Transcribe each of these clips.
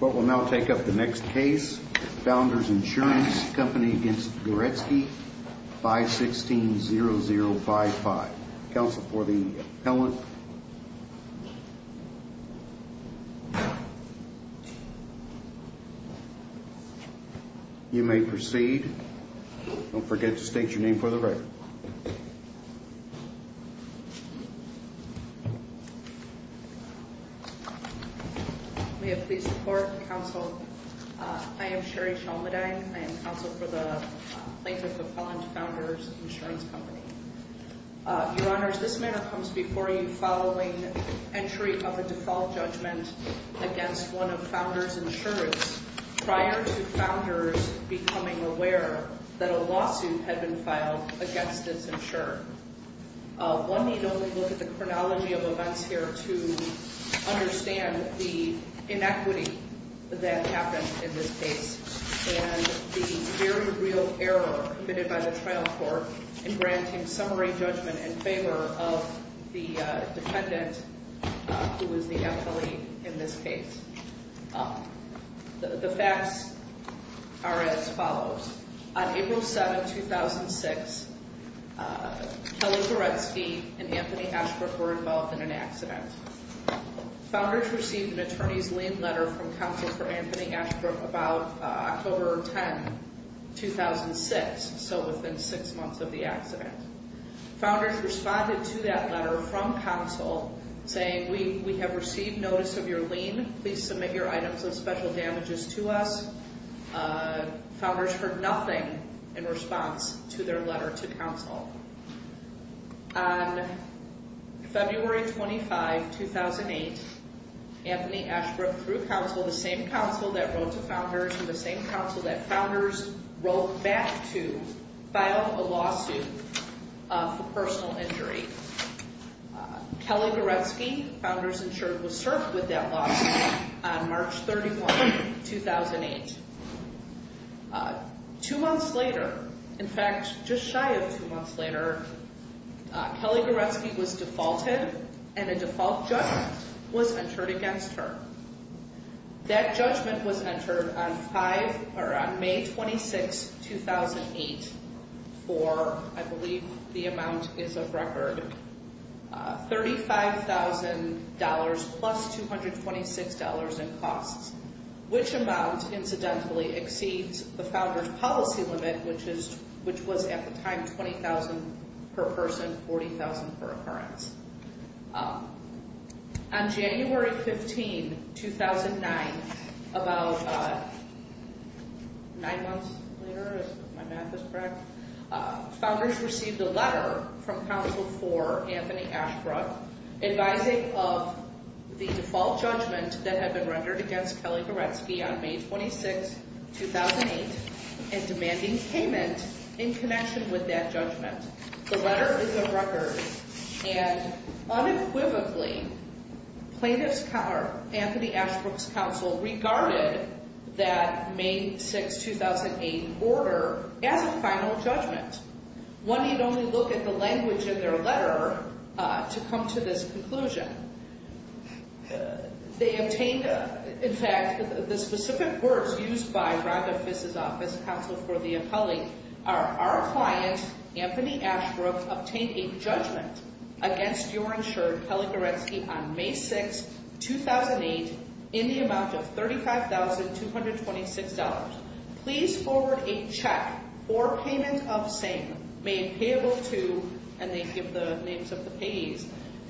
What we'll now take up the next case, Founders Insurance Company v. Goretzke, 516-0055. Counsel for the appellant. You may proceed. Don't forget to state your name for the record. May it please the court, counsel. I am Sheri Shalmadine. I am counsel for the plaintiff appellant, Founders Insurance Company. Your Honors, this matter comes before you following entry of a default judgment against one of Founders Insurance prior to Founders becoming aware that a lawsuit had been filed against this insurer. One need only look at the chronology of events here to understand the inequity that happened in this case and the very real error committed by the trial court in granting summary judgment in favor of the defendant who is the appellee in this case. The facts are as follows. On April 7, 2006, Kelly Goretzke and Anthony Ashbrook were involved in an accident. Founders received an attorney's lien letter from counsel for Anthony Ashbrook about October 10, 2006, so within six months of the accident. Founders responded to that letter from counsel saying, we have received notice of your lien. Please submit your items of special damages to us. Founders heard nothing in response to their letter to counsel. On February 25, 2008, Anthony Ashbrook threw counsel, the same counsel that wrote to Founders and the same counsel that Founders wrote back to file a lawsuit for personal injury. Kelly Goretzke, Founders insured, was served with that lawsuit on March 31, 2008. Two months later, in fact, just shy of two months later, Kelly Goretzke was defaulted and a default judgment was entered against her. That judgment was entered on May 26, 2008 for, I believe the amount is of record, $35,000 plus $226 in costs, which amount, incidentally, exceeds the Founders' policy limit, which was at the time $20,000 per person, $40,000 per occurrence. On January 15, 2009, about nine months later, if my math is correct, Founders received a letter from counsel for Anthony Ashbrook advising of the default judgment that had been rendered against Kelly Goretzke on May 26, 2008 and demanding payment in connection with that judgment. The letter is a record, and unequivocally, plaintiff's counsel, Anthony Ashbrook's counsel regarded that May 6, 2008 order as a final judgment. One need only look at the language in their letter to come to this conclusion. They obtained, in fact, the specific words used by Rhonda Fiss' office, counsel for the appellee, are, Our client, Anthony Ashbrook, obtained a judgment against your insured Kelly Goretzke on May 6, 2008 in the amount of $35,226. Please forward a check or payment of same, made payable to, and they give the names of the payees.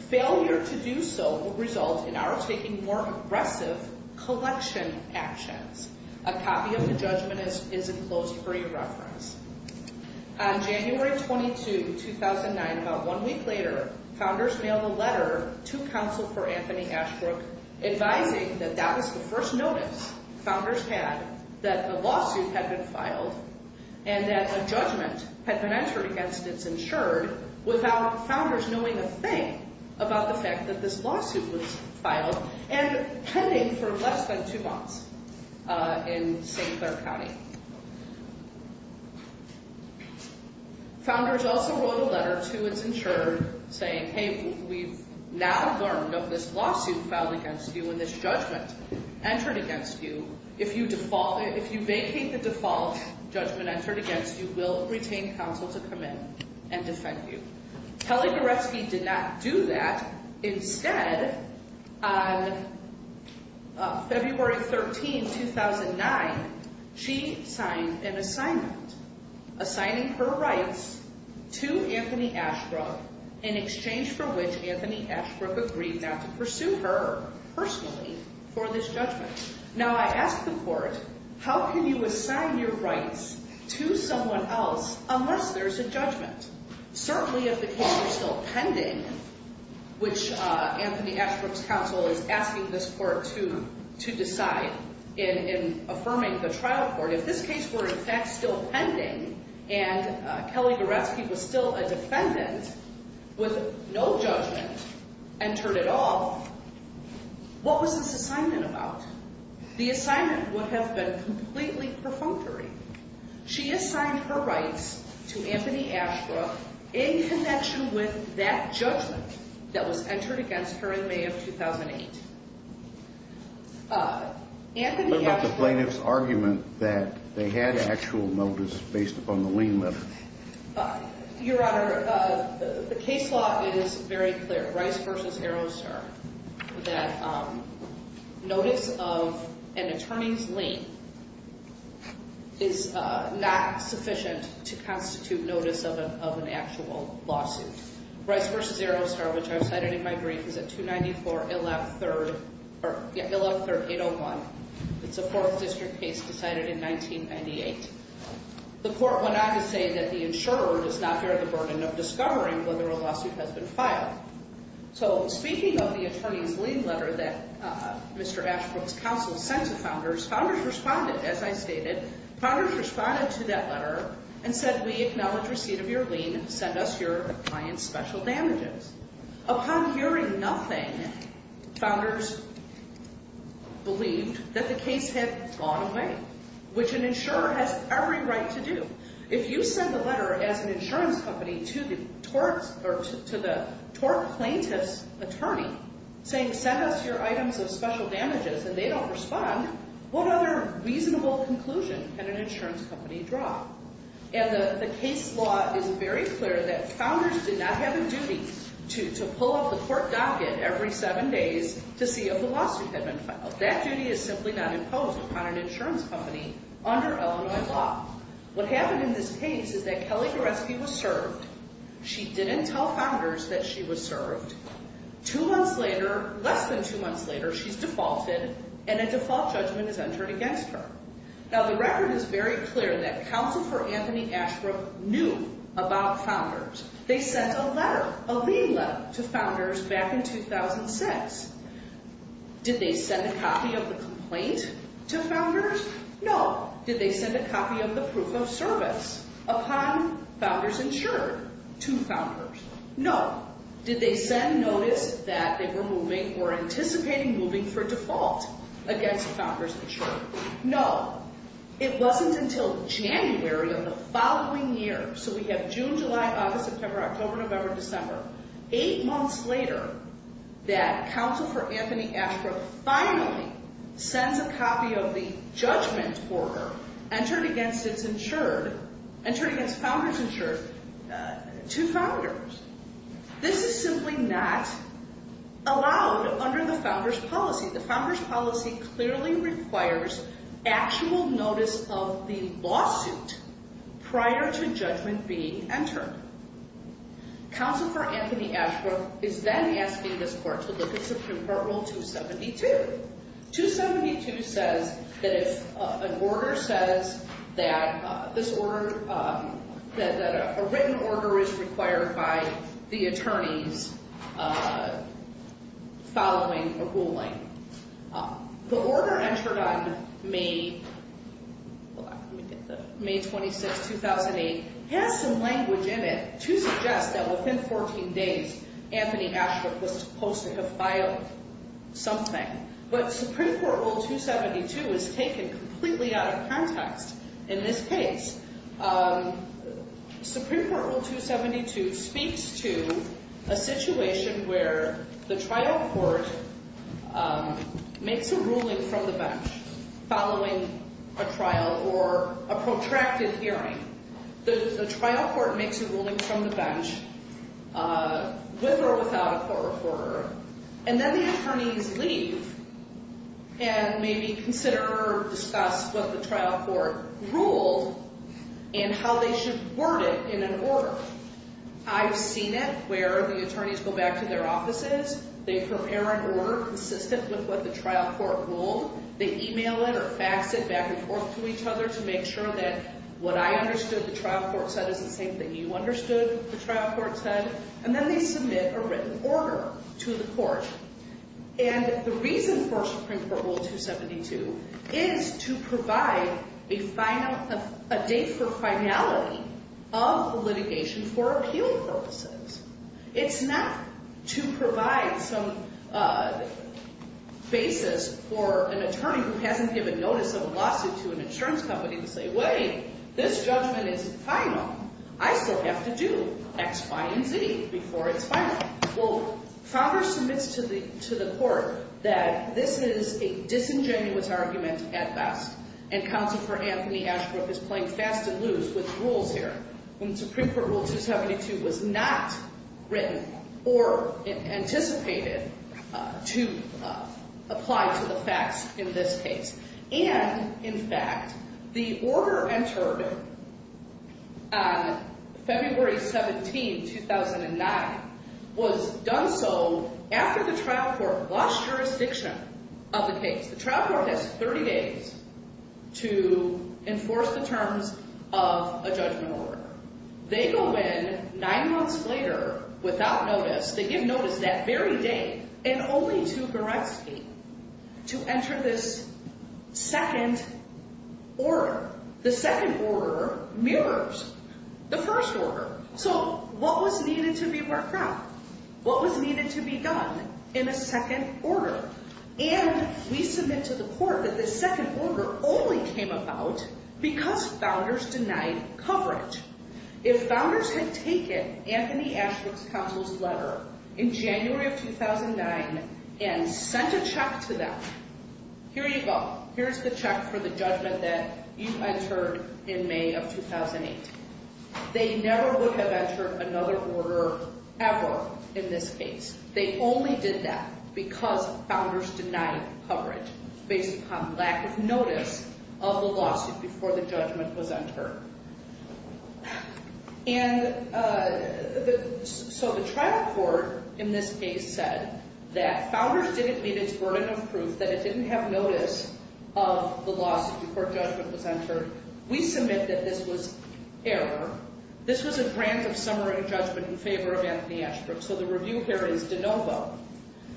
Failure to do so will result in our taking more aggressive collection actions. A copy of the judgment is enclosed for your reference. On January 22, 2009, about one week later, Founders mailed a letter to counsel for Anthony Ashbrook advising that that was the first notice Founders had that the lawsuit had been filed and that a judgment had been entered against its insured without Founders knowing a thing about the fact that this lawsuit was filed and pending for less than two months in St. Clair County. Founders also wrote a letter to its insured saying, Hey, we've now learned of this lawsuit filed against you and this judgment entered against you. If you vacate the default judgment entered against you, we'll retain counsel to come in and defend you. Kelly Goretzke did not do that. Instead, on February 13, 2009, she signed an assignment assigning her rights to Anthony Ashbrook in exchange for which Anthony Ashbrook agreed not to pursue her personally for this judgment. Now I ask the court, how can you assign your rights to someone else unless there's a judgment? Certainly if the case were still pending, which Anthony Ashbrook's counsel is asking this court to decide in affirming the trial court. If this case were in fact still pending and Kelly Goretzke was still a defendant with no judgment entered at all, what was this assignment about? The assignment would have been completely perfunctory. She assigned her rights to Anthony Ashbrook in connection with that judgment that was entered against her in May of 2008. What about the plaintiff's argument that they had actual notice based upon the lien letter? Your Honor, the case law is very clear. Rice v. Arrowstar that notice of an attorney's lien is not sufficient to constitute notice of an actual lawsuit. Rice v. Arrowstar, which I've cited in my brief, is at 294-113-801. It's a Fourth District case decided in 1998. The court went on to say that the insurer does not bear the burden of discovering whether a lawsuit has been filed. Speaking of the attorney's lien letter that Mr. Ashbrook's counsel sent to founders, founders responded, as I stated. Founders responded to that letter and said, we acknowledge receipt of your lien. Send us your client's special damages. Upon hearing nothing, founders believed that the case had gone away, which an insurer has every right to do. If you send a letter as an insurance company to the tort plaintiff's attorney saying send us your items of special damages and they don't respond, what other reasonable conclusion can an insurance company draw? And the case law is very clear that founders did not have a duty to pull up the court docket every seven days to see if a lawsuit had been filed. That duty is simply not imposed upon an insurance company under Illinois law. What happened in this case is that Kelly Goreski was served. She didn't tell founders that she was served. Two months later, less than two months later, she's defaulted and a default judgment is entered against her. Now the record is very clear that Counselor Anthony Ashbrook knew about founders. They sent a letter, a lien letter, to founders back in 2006. Did they send a copy of the complaint to founders? No. Did they send a copy of the proof of service upon founders insured to founders? No. Did they send notice that they were moving or anticipating moving for default against founders insured? No. It wasn't until January of the following year, so we have June, July, August, September, October, November, December, eight months later that Counselor Anthony Ashbrook finally sends a copy of the judgment order entered against founders insured to founders. This is simply not allowed under the founders policy. The founders policy clearly requires actual notice of the lawsuit prior to judgment being entered. Counselor Anthony Ashbrook is then asking this court to look at Supreme Court Rule 272. 272 says that if an order says that a written order is required by the attorneys following a ruling. The order entered on May 26, 2008 has some language in it to suggest that within 14 days Anthony Ashbrook was supposed to have filed something. But Supreme Court Rule 272 is taken completely out of context in this case. Supreme Court Rule 272 speaks to a situation where the trial court makes a ruling from the bench following a trial or a protracted hearing. The trial court makes a ruling from the bench with or without a court reporter. And then the attorneys leave and maybe consider or discuss what the trial court ruled and how they should word it in an order. I've seen it where the attorneys go back to their offices. They prepare an order consistent with what the trial court ruled. They email it or fax it back and forth to each other to make sure that what I understood the trial court said is the same thing you understood the trial court said. And then they submit a written order to the court. And the reason for Supreme Court Rule 272 is to provide a date for finality of litigation for appeal purposes. It's not to provide some basis for an attorney who hasn't given notice of a lawsuit to an insurance company to say wait, this judgment is final. I still have to do X, Y, and Z before it's final. Well, Fowler submits to the court that this is a disingenuous argument at best. And Counsel for Anthony Ashbrook is playing fast and loose with rules here. When Supreme Court Rule 272 was not written or anticipated to apply to the facts in this case. And, in fact, the order entered on February 17, 2009, was done so after the trial court lost jurisdiction of the case. The trial court has 30 days to enforce the terms of a judgment order. They go in nine months later without notice. They give notice that very day and only to Goretsky to enter this second order. The second order mirrors the first order. So what was needed to be worked out? What was needed to be done in a second order? And we submit to the court that the second order only came about because founders denied coverage. If founders had taken Anthony Ashbrook's counsel's letter in January of 2009 and sent a check to them, here you go. Here's the check for the judgment that you entered in May of 2008. They never would have entered another order ever in this case. They only did that because founders denied coverage based upon lack of notice of the lawsuit before the judgment was entered. And so the trial court in this case said that founders didn't meet its burden of proof that it didn't have notice of the lawsuit before judgment was entered. We submit that this was error. This was a grant of summary judgment in favor of Anthony Ashbrook. So the review here is de novo.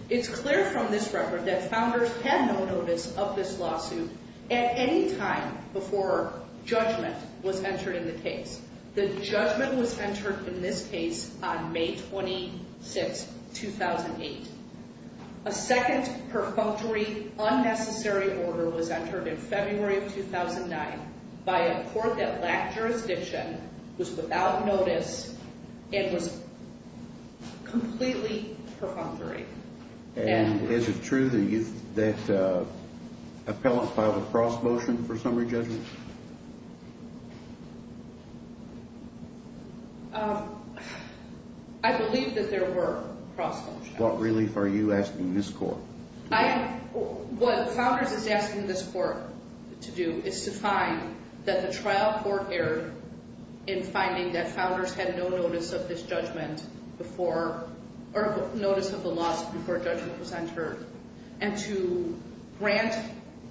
It's clear from this record that founders had no notice of this lawsuit at any time before judgment was entered in the case. The judgment was entered in this case on May 26, 2008. A second perfunctory unnecessary order was entered in February of 2009 by a court that lacked jurisdiction, was without notice, and was completely perfunctory. And is it true that appellants filed a cross motion for summary judgment? I believe that there were cross motions. What relief are you asking this court? What founders is asking this court to do is to find that the trial court erred in finding that founders had no notice of this judgment before – or notice of the lawsuit before judgment was entered and to grant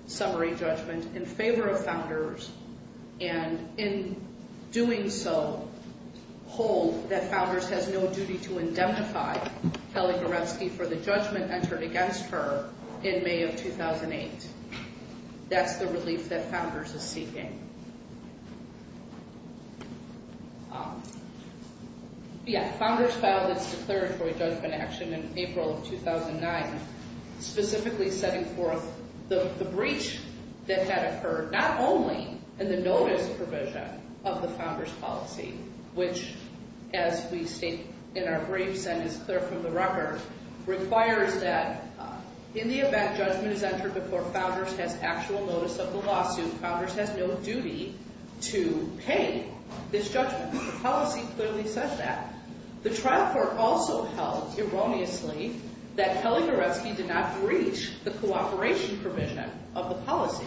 summary judgment in favor of founders and in doing so, hold that founders has no duty to indemnify Kelly Goretsky for the judgment entered against her in May of 2008. That's the relief that founders is seeking. Yeah. Founders filed its declaratory judgment action in April of 2009, specifically setting forth the breach that had occurred, not only in the notice provision of the founders policy, which, as we state in our briefs and is clear from the record, requires that in the event judgment is entered before founders has actual notice of the lawsuit, founders has no duty to pay this judgment. The policy clearly says that. The trial court also held, erroneously, that Kelly Goretsky did not breach the cooperation provision of the policy.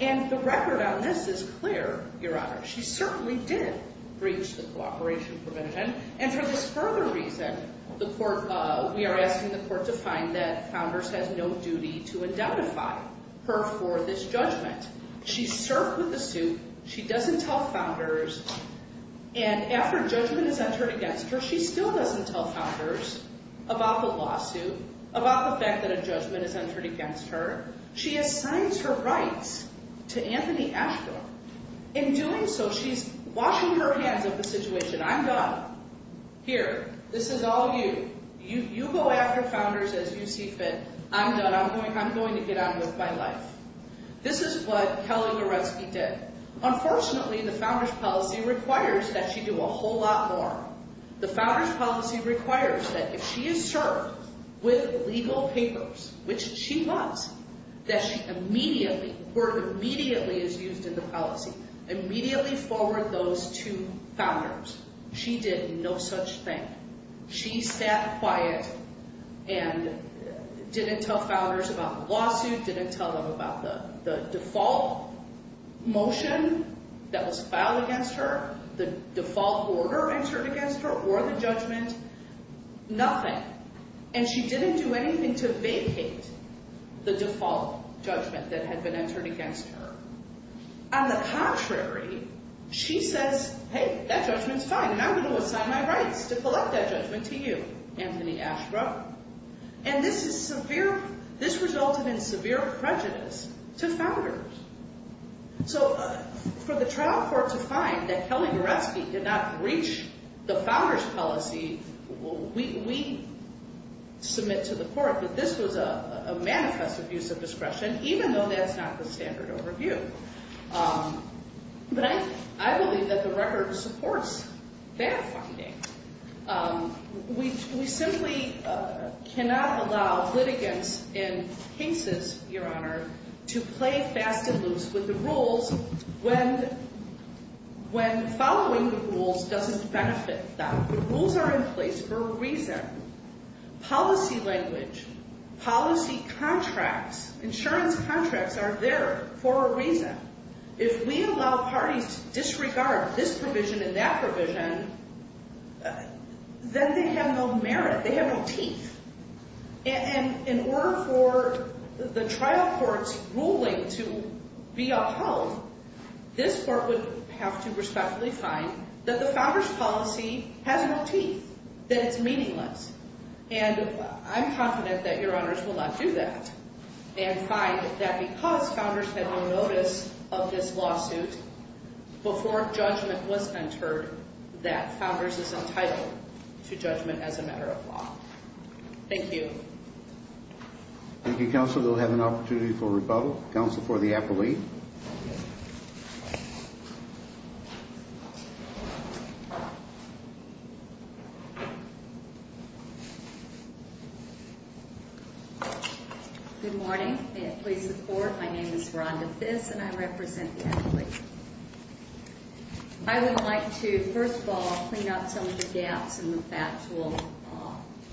And the record on this is clear, Your Honor. She certainly did breach the cooperation provision. And for this further reason, we are asking the court to find that founders has no duty to indemnify her for this judgment. She's served with the suit. She doesn't tell founders. And after judgment is entered against her, she still doesn't tell founders about the lawsuit, about the fact that a judgment is entered against her. She assigns her rights to Anthony Ashdor. In doing so, she's washing her hands of the situation. I'm done. Here. This is all you. You go after founders as you see fit. I'm done. I'm going to get on with my life. This is what Kelly Goretsky did. Unfortunately, the founders policy requires that she do a whole lot more. The founders policy requires that if she is served with legal papers, which she was, that she immediately, the word immediately is used in the policy. Immediately forward those to founders. She did no such thing. She sat quiet and didn't tell founders about the lawsuit, didn't tell them about the default motion that was filed against her, the default order entered against her, or the judgment. Nothing. And she didn't do anything to vacate the default judgment that had been entered against her. On the contrary, she says, hey, that judgment's fine, and I'm going to assign my rights to collect that judgment to you, Anthony Ashdor. And this is severe. This resulted in severe prejudice to founders. So for the trial court to find that Kelly Goretsky did not breach the founders policy, we submit to the court that this was a manifest abuse of discretion, even though that's not the standard overview. But I believe that the record supports that finding. We simply cannot allow litigants in cases, Your Honor, to play fast and loose with the rules when following the rules doesn't benefit them. The rules are in place for a reason. Policy language, policy contracts, insurance contracts are there for a reason. If we allow parties to disregard this provision and that provision, then they have no merit. They have no teeth. And in order for the trial court's ruling to be upheld, this court would have to respectfully find that the founders policy has no teeth, that it's meaningless. And I'm confident that Your Honors will not do that and find that because founders had no notice of this lawsuit before judgment was entered, that founders is entitled to judgment as a matter of law. Thank you. Thank you, Counselor. We'll have an opportunity for rebuttal. Counsel for the appellee. Good morning. May it please the Court, my name is Rhonda Fiss and I represent the appellee. I would like to, first of all, clean up some of the gaps in the factual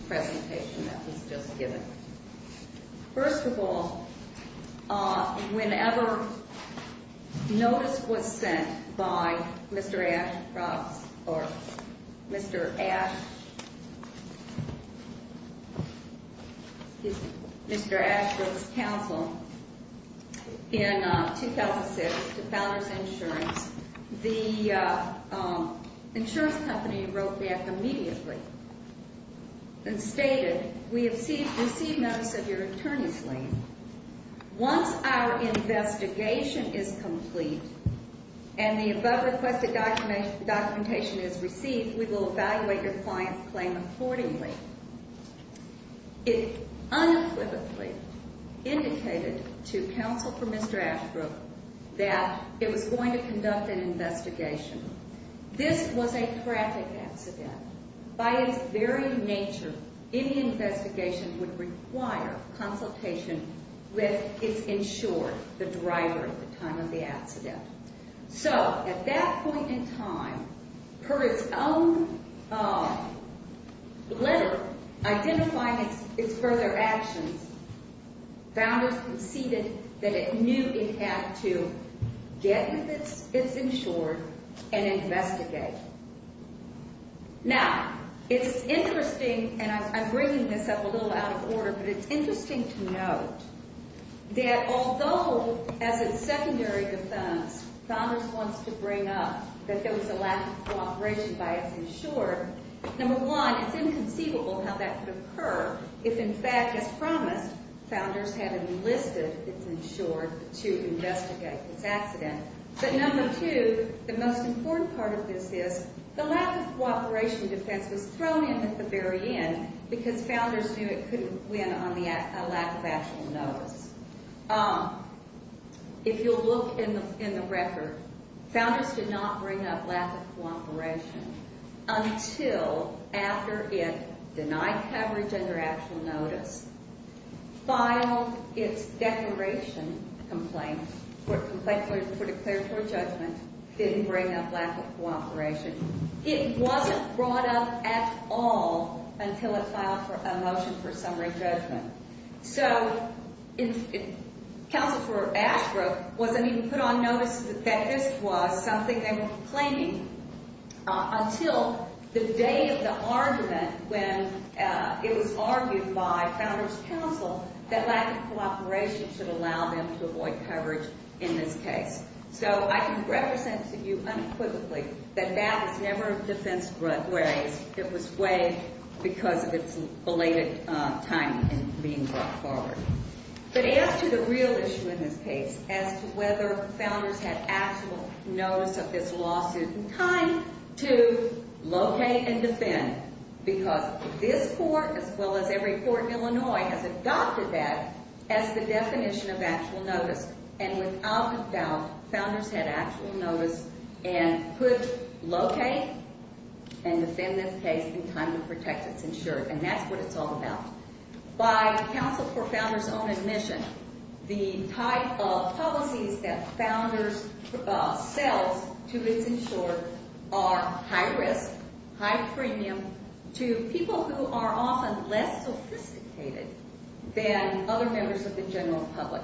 presentation that was just given. First of all, whenever notice was sent by Mr. Ashbrook's counsel in 2006 to Founders Insurance, the insurance company wrote back immediately and stated, We have received notice of your attorney's lien. Once our investigation is complete and the above requested documentation is received, we will evaluate your client's claim accordingly. It unequivocally indicated to Counsel for Mr. Ashbrook that it was going to conduct an investigation. This was a traffic accident. By its very nature, any investigation would require consultation with its insured, the driver at the time of the accident. So, at that point in time, per its own letter identifying its further actions, Founders conceded that it knew it had to get with its insured and investigate. Now, it's interesting, and I'm bringing this up a little out of order, but it's interesting to note that although, as a secondary defense, Founders wants to bring up that there was a lack of cooperation by its insured, number one, it's inconceivable how that could occur if, in fact, as promised, Founders had enlisted its insured to investigate this accident. But number two, the most important part of this is the lack of cooperation defense was thrown in at the very end because Founders knew it couldn't win on a lack of actual notice. If you'll look in the record, Founders did not bring up lack of cooperation until after it denied coverage under actual notice, filed its declaration complaint for declaratory judgment, didn't bring up lack of cooperation. It wasn't brought up at all until it filed a motion for summary judgment. So Council for Asheville wasn't even put on notice that this was something they were complaining until the day of the argument when it was argued by Founders Council that lack of cooperation should allow them to avoid coverage in this case. So I can represent to you unequivocally that that was never a defense where it was waived because of its belated time in being brought forward. But as to the real issue in this case, as to whether Founders had actual notice of this lawsuit in time to locate and defend, because this court, as well as every court in Illinois, has adopted that as the definition of actual notice. And without a doubt, Founders had actual notice and could locate and defend this case in time to protect its insured, and that's what it's all about. By Council for Founders' own admission, the type of policies that Founders sells to its insured are high risk, high premium to people who are often less sophisticated than other members of the general public.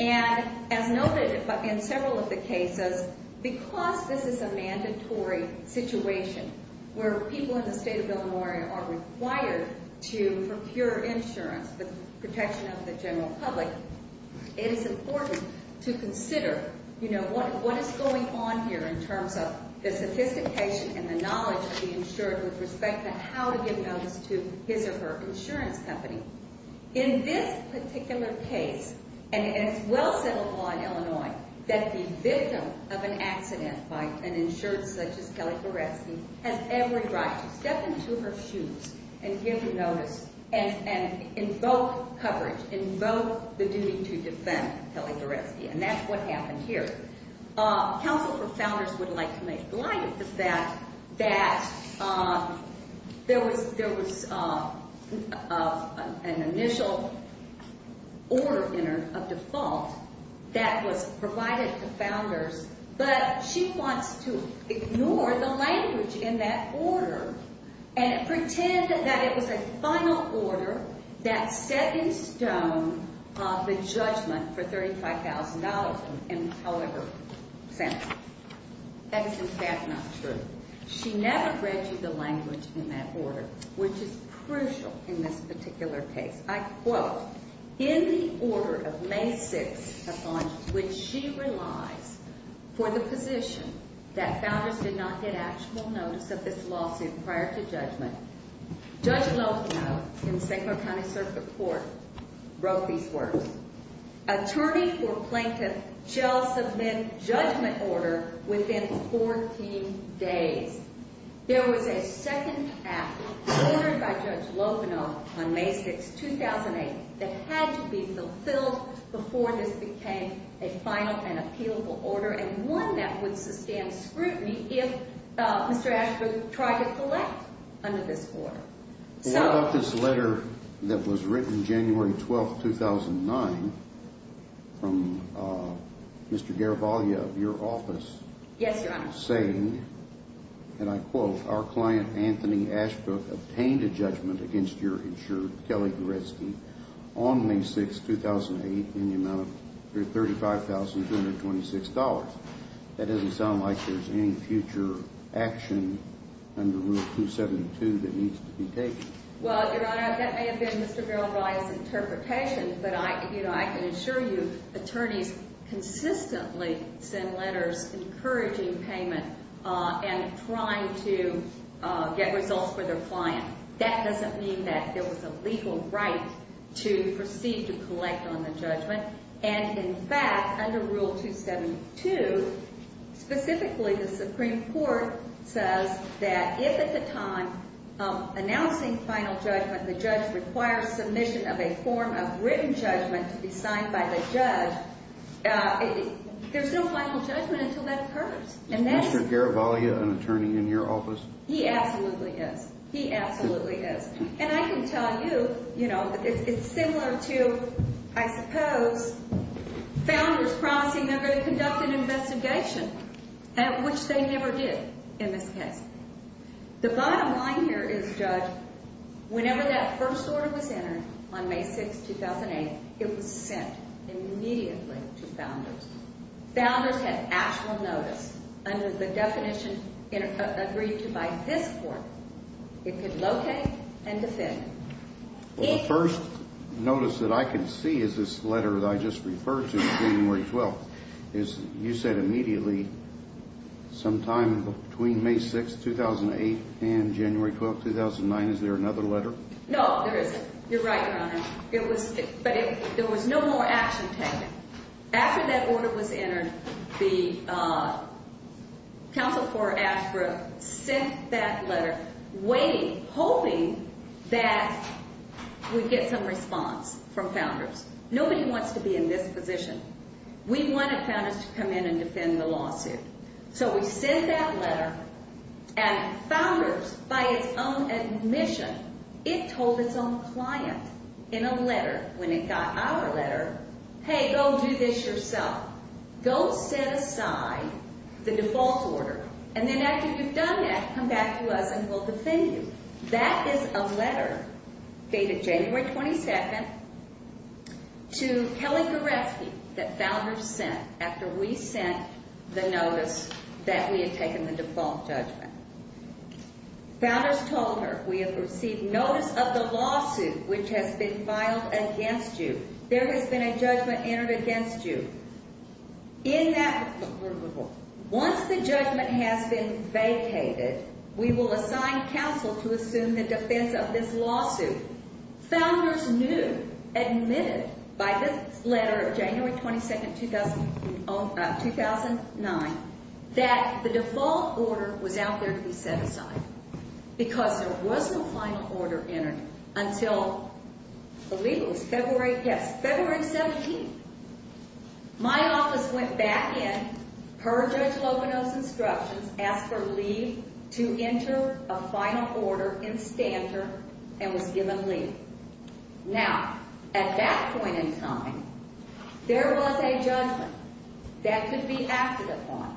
And as noted in several of the cases, because this is a mandatory situation where people in the state of Illinois are required to procure insurance, the protection of the general public, it is important to consider, you know, what is going on here in terms of the sophistication and the knowledge of the insured with respect to how to give notice to his or her insurance company. In this particular case, and it's well settled law in Illinois, that the victim of an accident by an insured such as Kelly Goreski has every right to step into her shoes and give notice and invoke coverage, invoke the duty to defend Kelly Goreski, and that's what happened here. Council for Founders would like to make light of the fact that there was an initial order in her of default that was provided to Founders, but she wants to ignore the language in that order and pretend that it was a final order that set in stone the judgment for $35,000. That is in fact not true. She never read you the language in that order, which is crucial in this particular case. I quote, in the order of May 6th upon which she relies for the position that Founders did not get actual notice of this lawsuit prior to judgment, Judge Lovenoff in the St. Clair County Circuit Court wrote these words, Attorney for Plaintiff shall submit judgment order within 14 days. There was a second act ordered by Judge Lovenoff on May 6th, 2008, that had to be fulfilled before this became a final and appealable order and one that would sustain scrutiny if Mr. Ashford tried to collect under this order. What about this letter that was written January 12th, 2009 from Mr. Garavaglia of your office saying, and I quote, our client Anthony Ashford obtained a judgment against your insured Kelly Goreski on May 6th, 2008 in the amount of $35,226. That doesn't sound like there's any future action under Rule 272 that needs to be taken. Well, Your Honor, that may have been Mr. Garavaglia's interpretation, but I can assure you attorneys consistently send letters encouraging payment and trying to get results for their client. That doesn't mean that there was a legal right to proceed to collect on the judgment. And in fact, under Rule 272, specifically the Supreme Court says that if at the time of announcing final judgment the judge requires submission of a form of written judgment to be signed by the judge, there's no final judgment until that occurs. Is Mr. Garavaglia an attorney in your office? He absolutely is. He absolutely is. And I can tell you, you know, it's similar to, I suppose, founders promising they're going to conduct an investigation, which they never did in this case. The bottom line here is, Judge, whenever that first order was entered on May 6th, 2008, it was sent immediately to founders. Founders had actual notice. Under the definition agreed to by this court, it could locate and defend. Well, the first notice that I can see is this letter that I just referred to, January 12th. You said immediately sometime between May 6th, 2008 and January 12th, 2009. Is there another letter? No, there isn't. You're right, Your Honor. But there was no more action taken. After that order was entered, the counsel for ASRA sent that letter waiting, hoping that we'd get some response from founders. Nobody wants to be in this position. We wanted founders to come in and defend the lawsuit. So we sent that letter, and founders, by its own admission, it told its own client in a letter when it got our letter, hey, go do this yourself. Go set aside the default order. And then after you've done that, come back to us and we'll defend you. That is a letter dated January 22nd to Kelly Goreski that founders sent after we sent the notice that we had taken the default judgment. Founders told her, we have received notice of the lawsuit which has been filed against you. There has been a judgment entered against you. Once the judgment has been vacated, we will assign counsel to assume the defense of this lawsuit. Founders knew, admitted by this letter of January 22nd, 2009, that the default order was out there to be set aside. Because there was no final order entered until the legalist, February, yes, February 17th. My office went back in, heard Judge Loveno's instructions, asked for leave to enter a final order in standard, and was given leave. Now, at that point in time, there was a judgment that could be acted upon.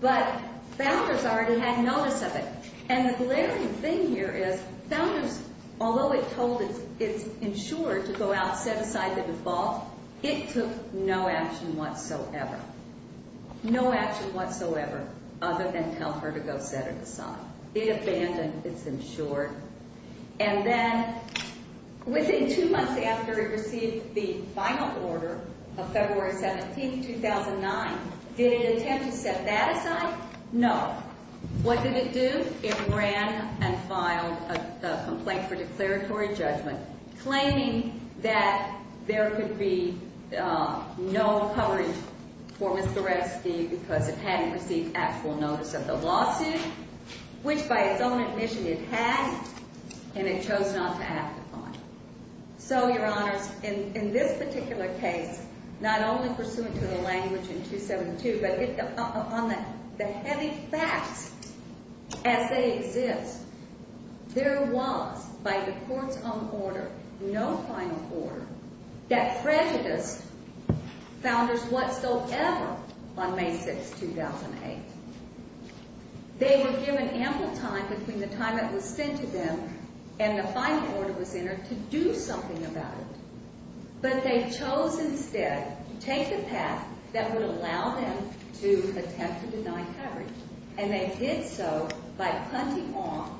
But founders already had notice of it. And the glaring thing here is founders, although it told its insurer to go out and set aside the default, it took no action whatsoever. No action whatsoever other than tell her to go set it aside. It abandoned its insurer. And then within two months after it received the final order of February 17th, 2009, did it intend to set that aside? No. What did it do? It ran and filed a complaint for declaratory judgment claiming that there could be no coverage for Miss Goreski because it hadn't received actual notice of the lawsuit, which by its own admission it had, and it chose not to act upon it. So, Your Honors, in this particular case, not only pursuant to the language in 272, but on the heavy facts as they exist, there was by the court's own order, no final order, that prejudiced founders whatsoever on May 6th, 2008. They were given ample time between the time it was sent to them and the final order was entered to do something about it, but they chose instead to take the path that would allow them to attempt to deny coverage. And they did so by punting off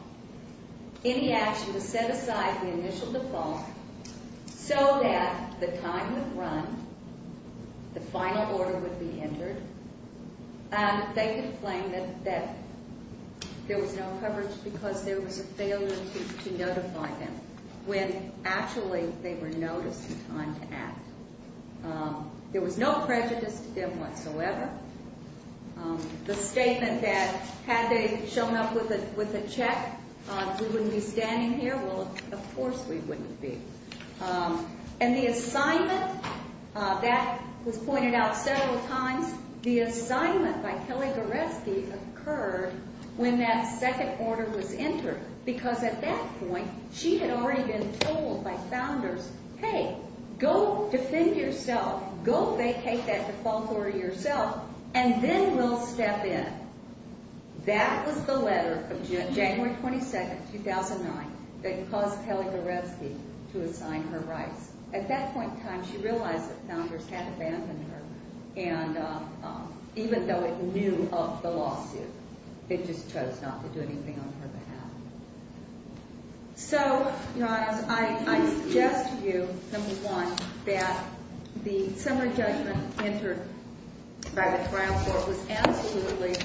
any action to set aside the initial default so that the time would run, the final order would be entered, and they could claim that there was no coverage because there was a failure to notify them when actually they were noticed in time to act. There was no prejudice to them whatsoever. The statement that had they shown up with a check, we wouldn't be standing here, well, of course we wouldn't be. And the assignment, that was pointed out several times, the assignment by Kelly Goreski occurred when that second order was entered because at that point she had already been told by founders, hey, go defend yourself, go vacate that default order yourself, and then we'll step in. That was the letter of January 22nd, 2009 that caused Kelly Goreski to assign her rights. At that point in time, she realized that founders had abandoned her, and even though it knew of the lawsuit, it just chose not to do anything on her behalf. So, I suggest to you, number one, that the summary judgment entered by the trial court was absolutely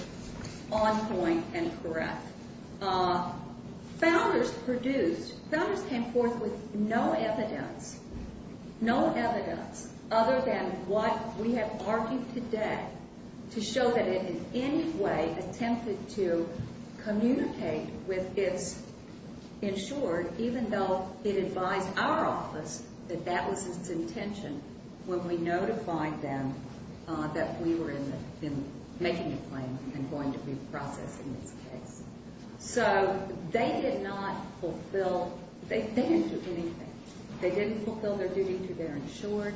on point and correct. Founders produced, founders came forth with no evidence, no evidence other than what we have argued today to show that it in any way attempted to communicate with its insured, even though it advised our office that that was its intention when we notified them that we were making a claim and going to reprocess in this case. So, they did not fulfill, they didn't do anything. They didn't fulfill their duty to their insured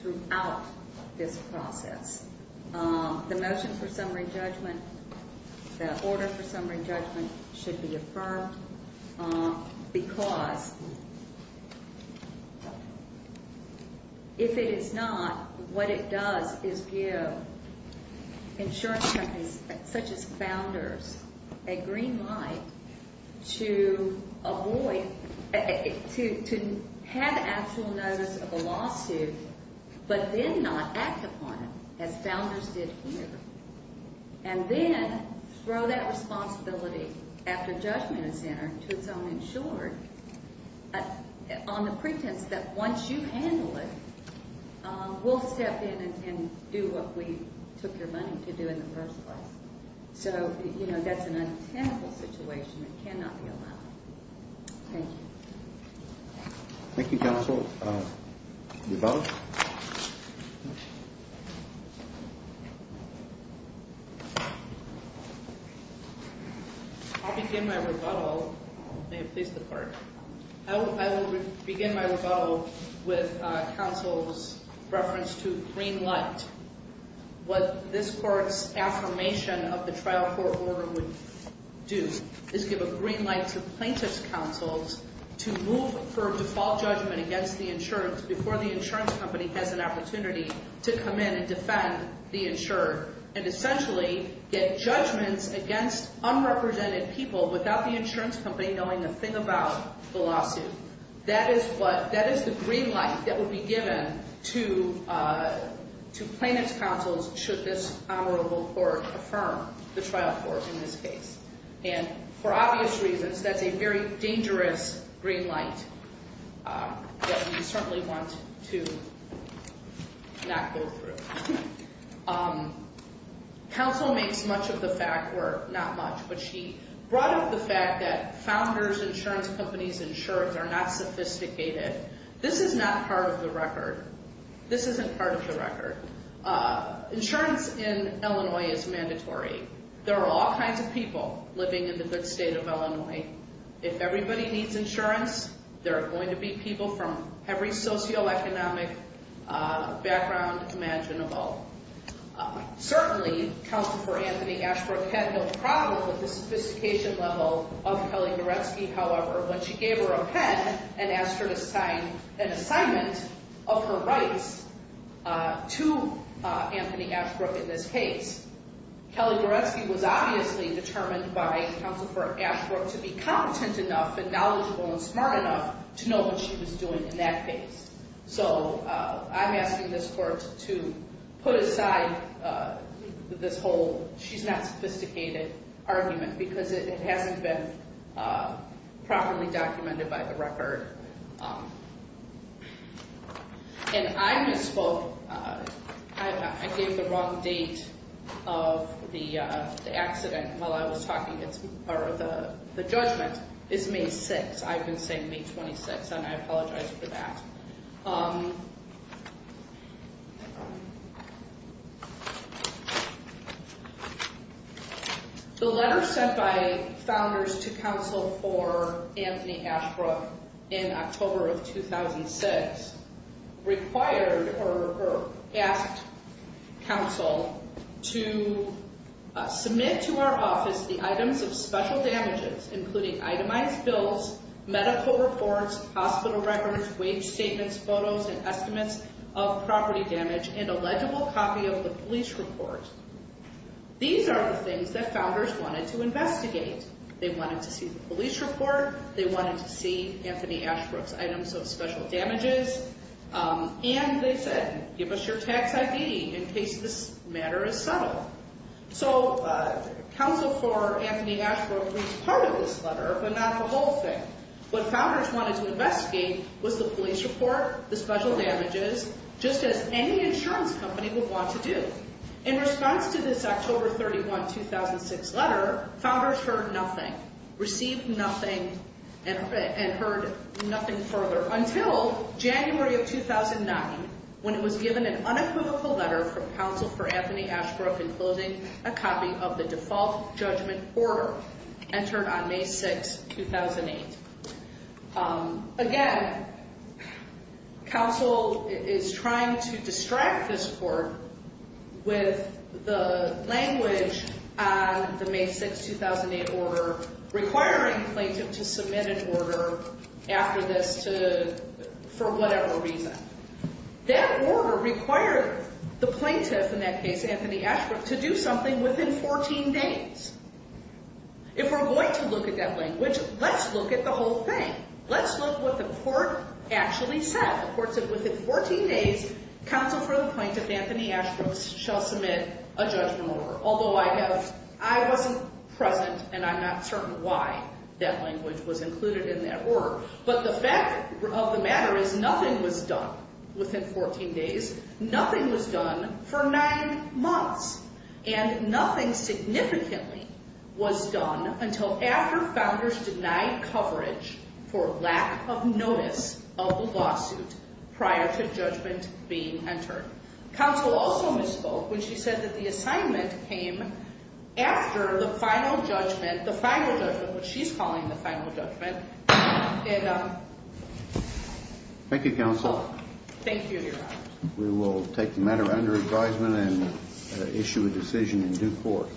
throughout this process. The motion for summary judgment, the order for summary judgment should be affirmed, because if it is not, what it does is give insurance companies such as founders a green light to avoid, to have actual notice of a lawsuit, but then not act upon it. As founders did here, and then throw that responsibility after judgment is entered to its own insured on the pretense that once you handle it, we'll step in and do what we took your money to do in the first place. So, you know, that's an untenable situation that cannot be allowed. Thank you. Thank you, counsel. Rebuttal? I'll begin my rebuttal. May it please the court. I will begin my rebuttal with counsel's reference to green light. What this court's affirmation of the trial court order would do is give a green light to plaintiff's counsels to move for default judgment against the insured before the insurance company has an opportunity to come in and defend the insured. And essentially, get judgments against unrepresented people without the insurance company knowing a thing about the lawsuit. That is the green light that would be given to plaintiff's counsels should this honorable court affirm the trial court in this case. And for obvious reasons, that's a very dangerous green light that we certainly want to not go through. Counsel makes much of the fact, or not much, but she brought up the fact that founders, insurance companies, insurers are not sophisticated. This is not part of the record. This isn't part of the record. Insurance in Illinois is mandatory. There are all kinds of people living in the good state of Illinois. If everybody needs insurance, there are going to be people from every socioeconomic background imaginable. Certainly, Counsel for Anthony Ashbrook had no problem with the sophistication level of Kelly Goretsky. However, when she gave her a pen and asked her to sign an assignment of her rights to Anthony Ashbrook in this case, Kelly Goretsky was obviously determined by Counsel for Ashbrook to be competent enough and knowledgeable and smart enough to know what she was doing in that case. So, I'm asking this court to put aside this whole she's not sophisticated argument because it hasn't been properly documented by the record. And I misspoke. I gave the wrong date of the accident while I was talking. The judgment is May 6th. I've been saying May 26th, and I apologize for that. The letter sent by Founders to Counsel for Anthony Ashbrook in October of 2006 required or asked Counsel to submit to our office the items of special damages, including itemized bills, medical reports, hospital records, wage statements, photos, and estimates of property damage, and a legible copy of the police report. These are the things that Founders wanted to investigate. They wanted to see the police report. They wanted to see Anthony Ashbrook's items of special damages. And they said, give us your tax ID in case this matter is subtle. So, Counsel for Anthony Ashbrook was part of this letter, but not the whole thing. What Founders wanted to investigate was the police report, the special damages, just as any insurance company would want to do. a copy of the default judgment order entered on May 6, 2008. Again, Counsel is trying to distract this court with the language on the May 6, 2008 order requiring plaintiff to submit an order after this for whatever reason. That order required the plaintiff, in that case Anthony Ashbrook, to do something within 14 days. If we're going to look at that language, let's look at the whole thing. Let's look at what the court actually said. The court said within 14 days, Counsel for the Plaintiff Anthony Ashbrook shall submit a judgment order. Although I wasn't present, and I'm not certain why that language was included in that order. But the fact of the matter is nothing was done within 14 days. Nothing was done for nine months. And nothing significantly was done until after Founders denied coverage for lack of notice of the lawsuit prior to judgment being entered. Counsel also misspoke when she said that the assignment came after the final judgment, the final judgment, what she's calling the final judgment. Thank you, Counsel. Thank you, Your Honor. We will take the matter under advisement and issue a decision in due course.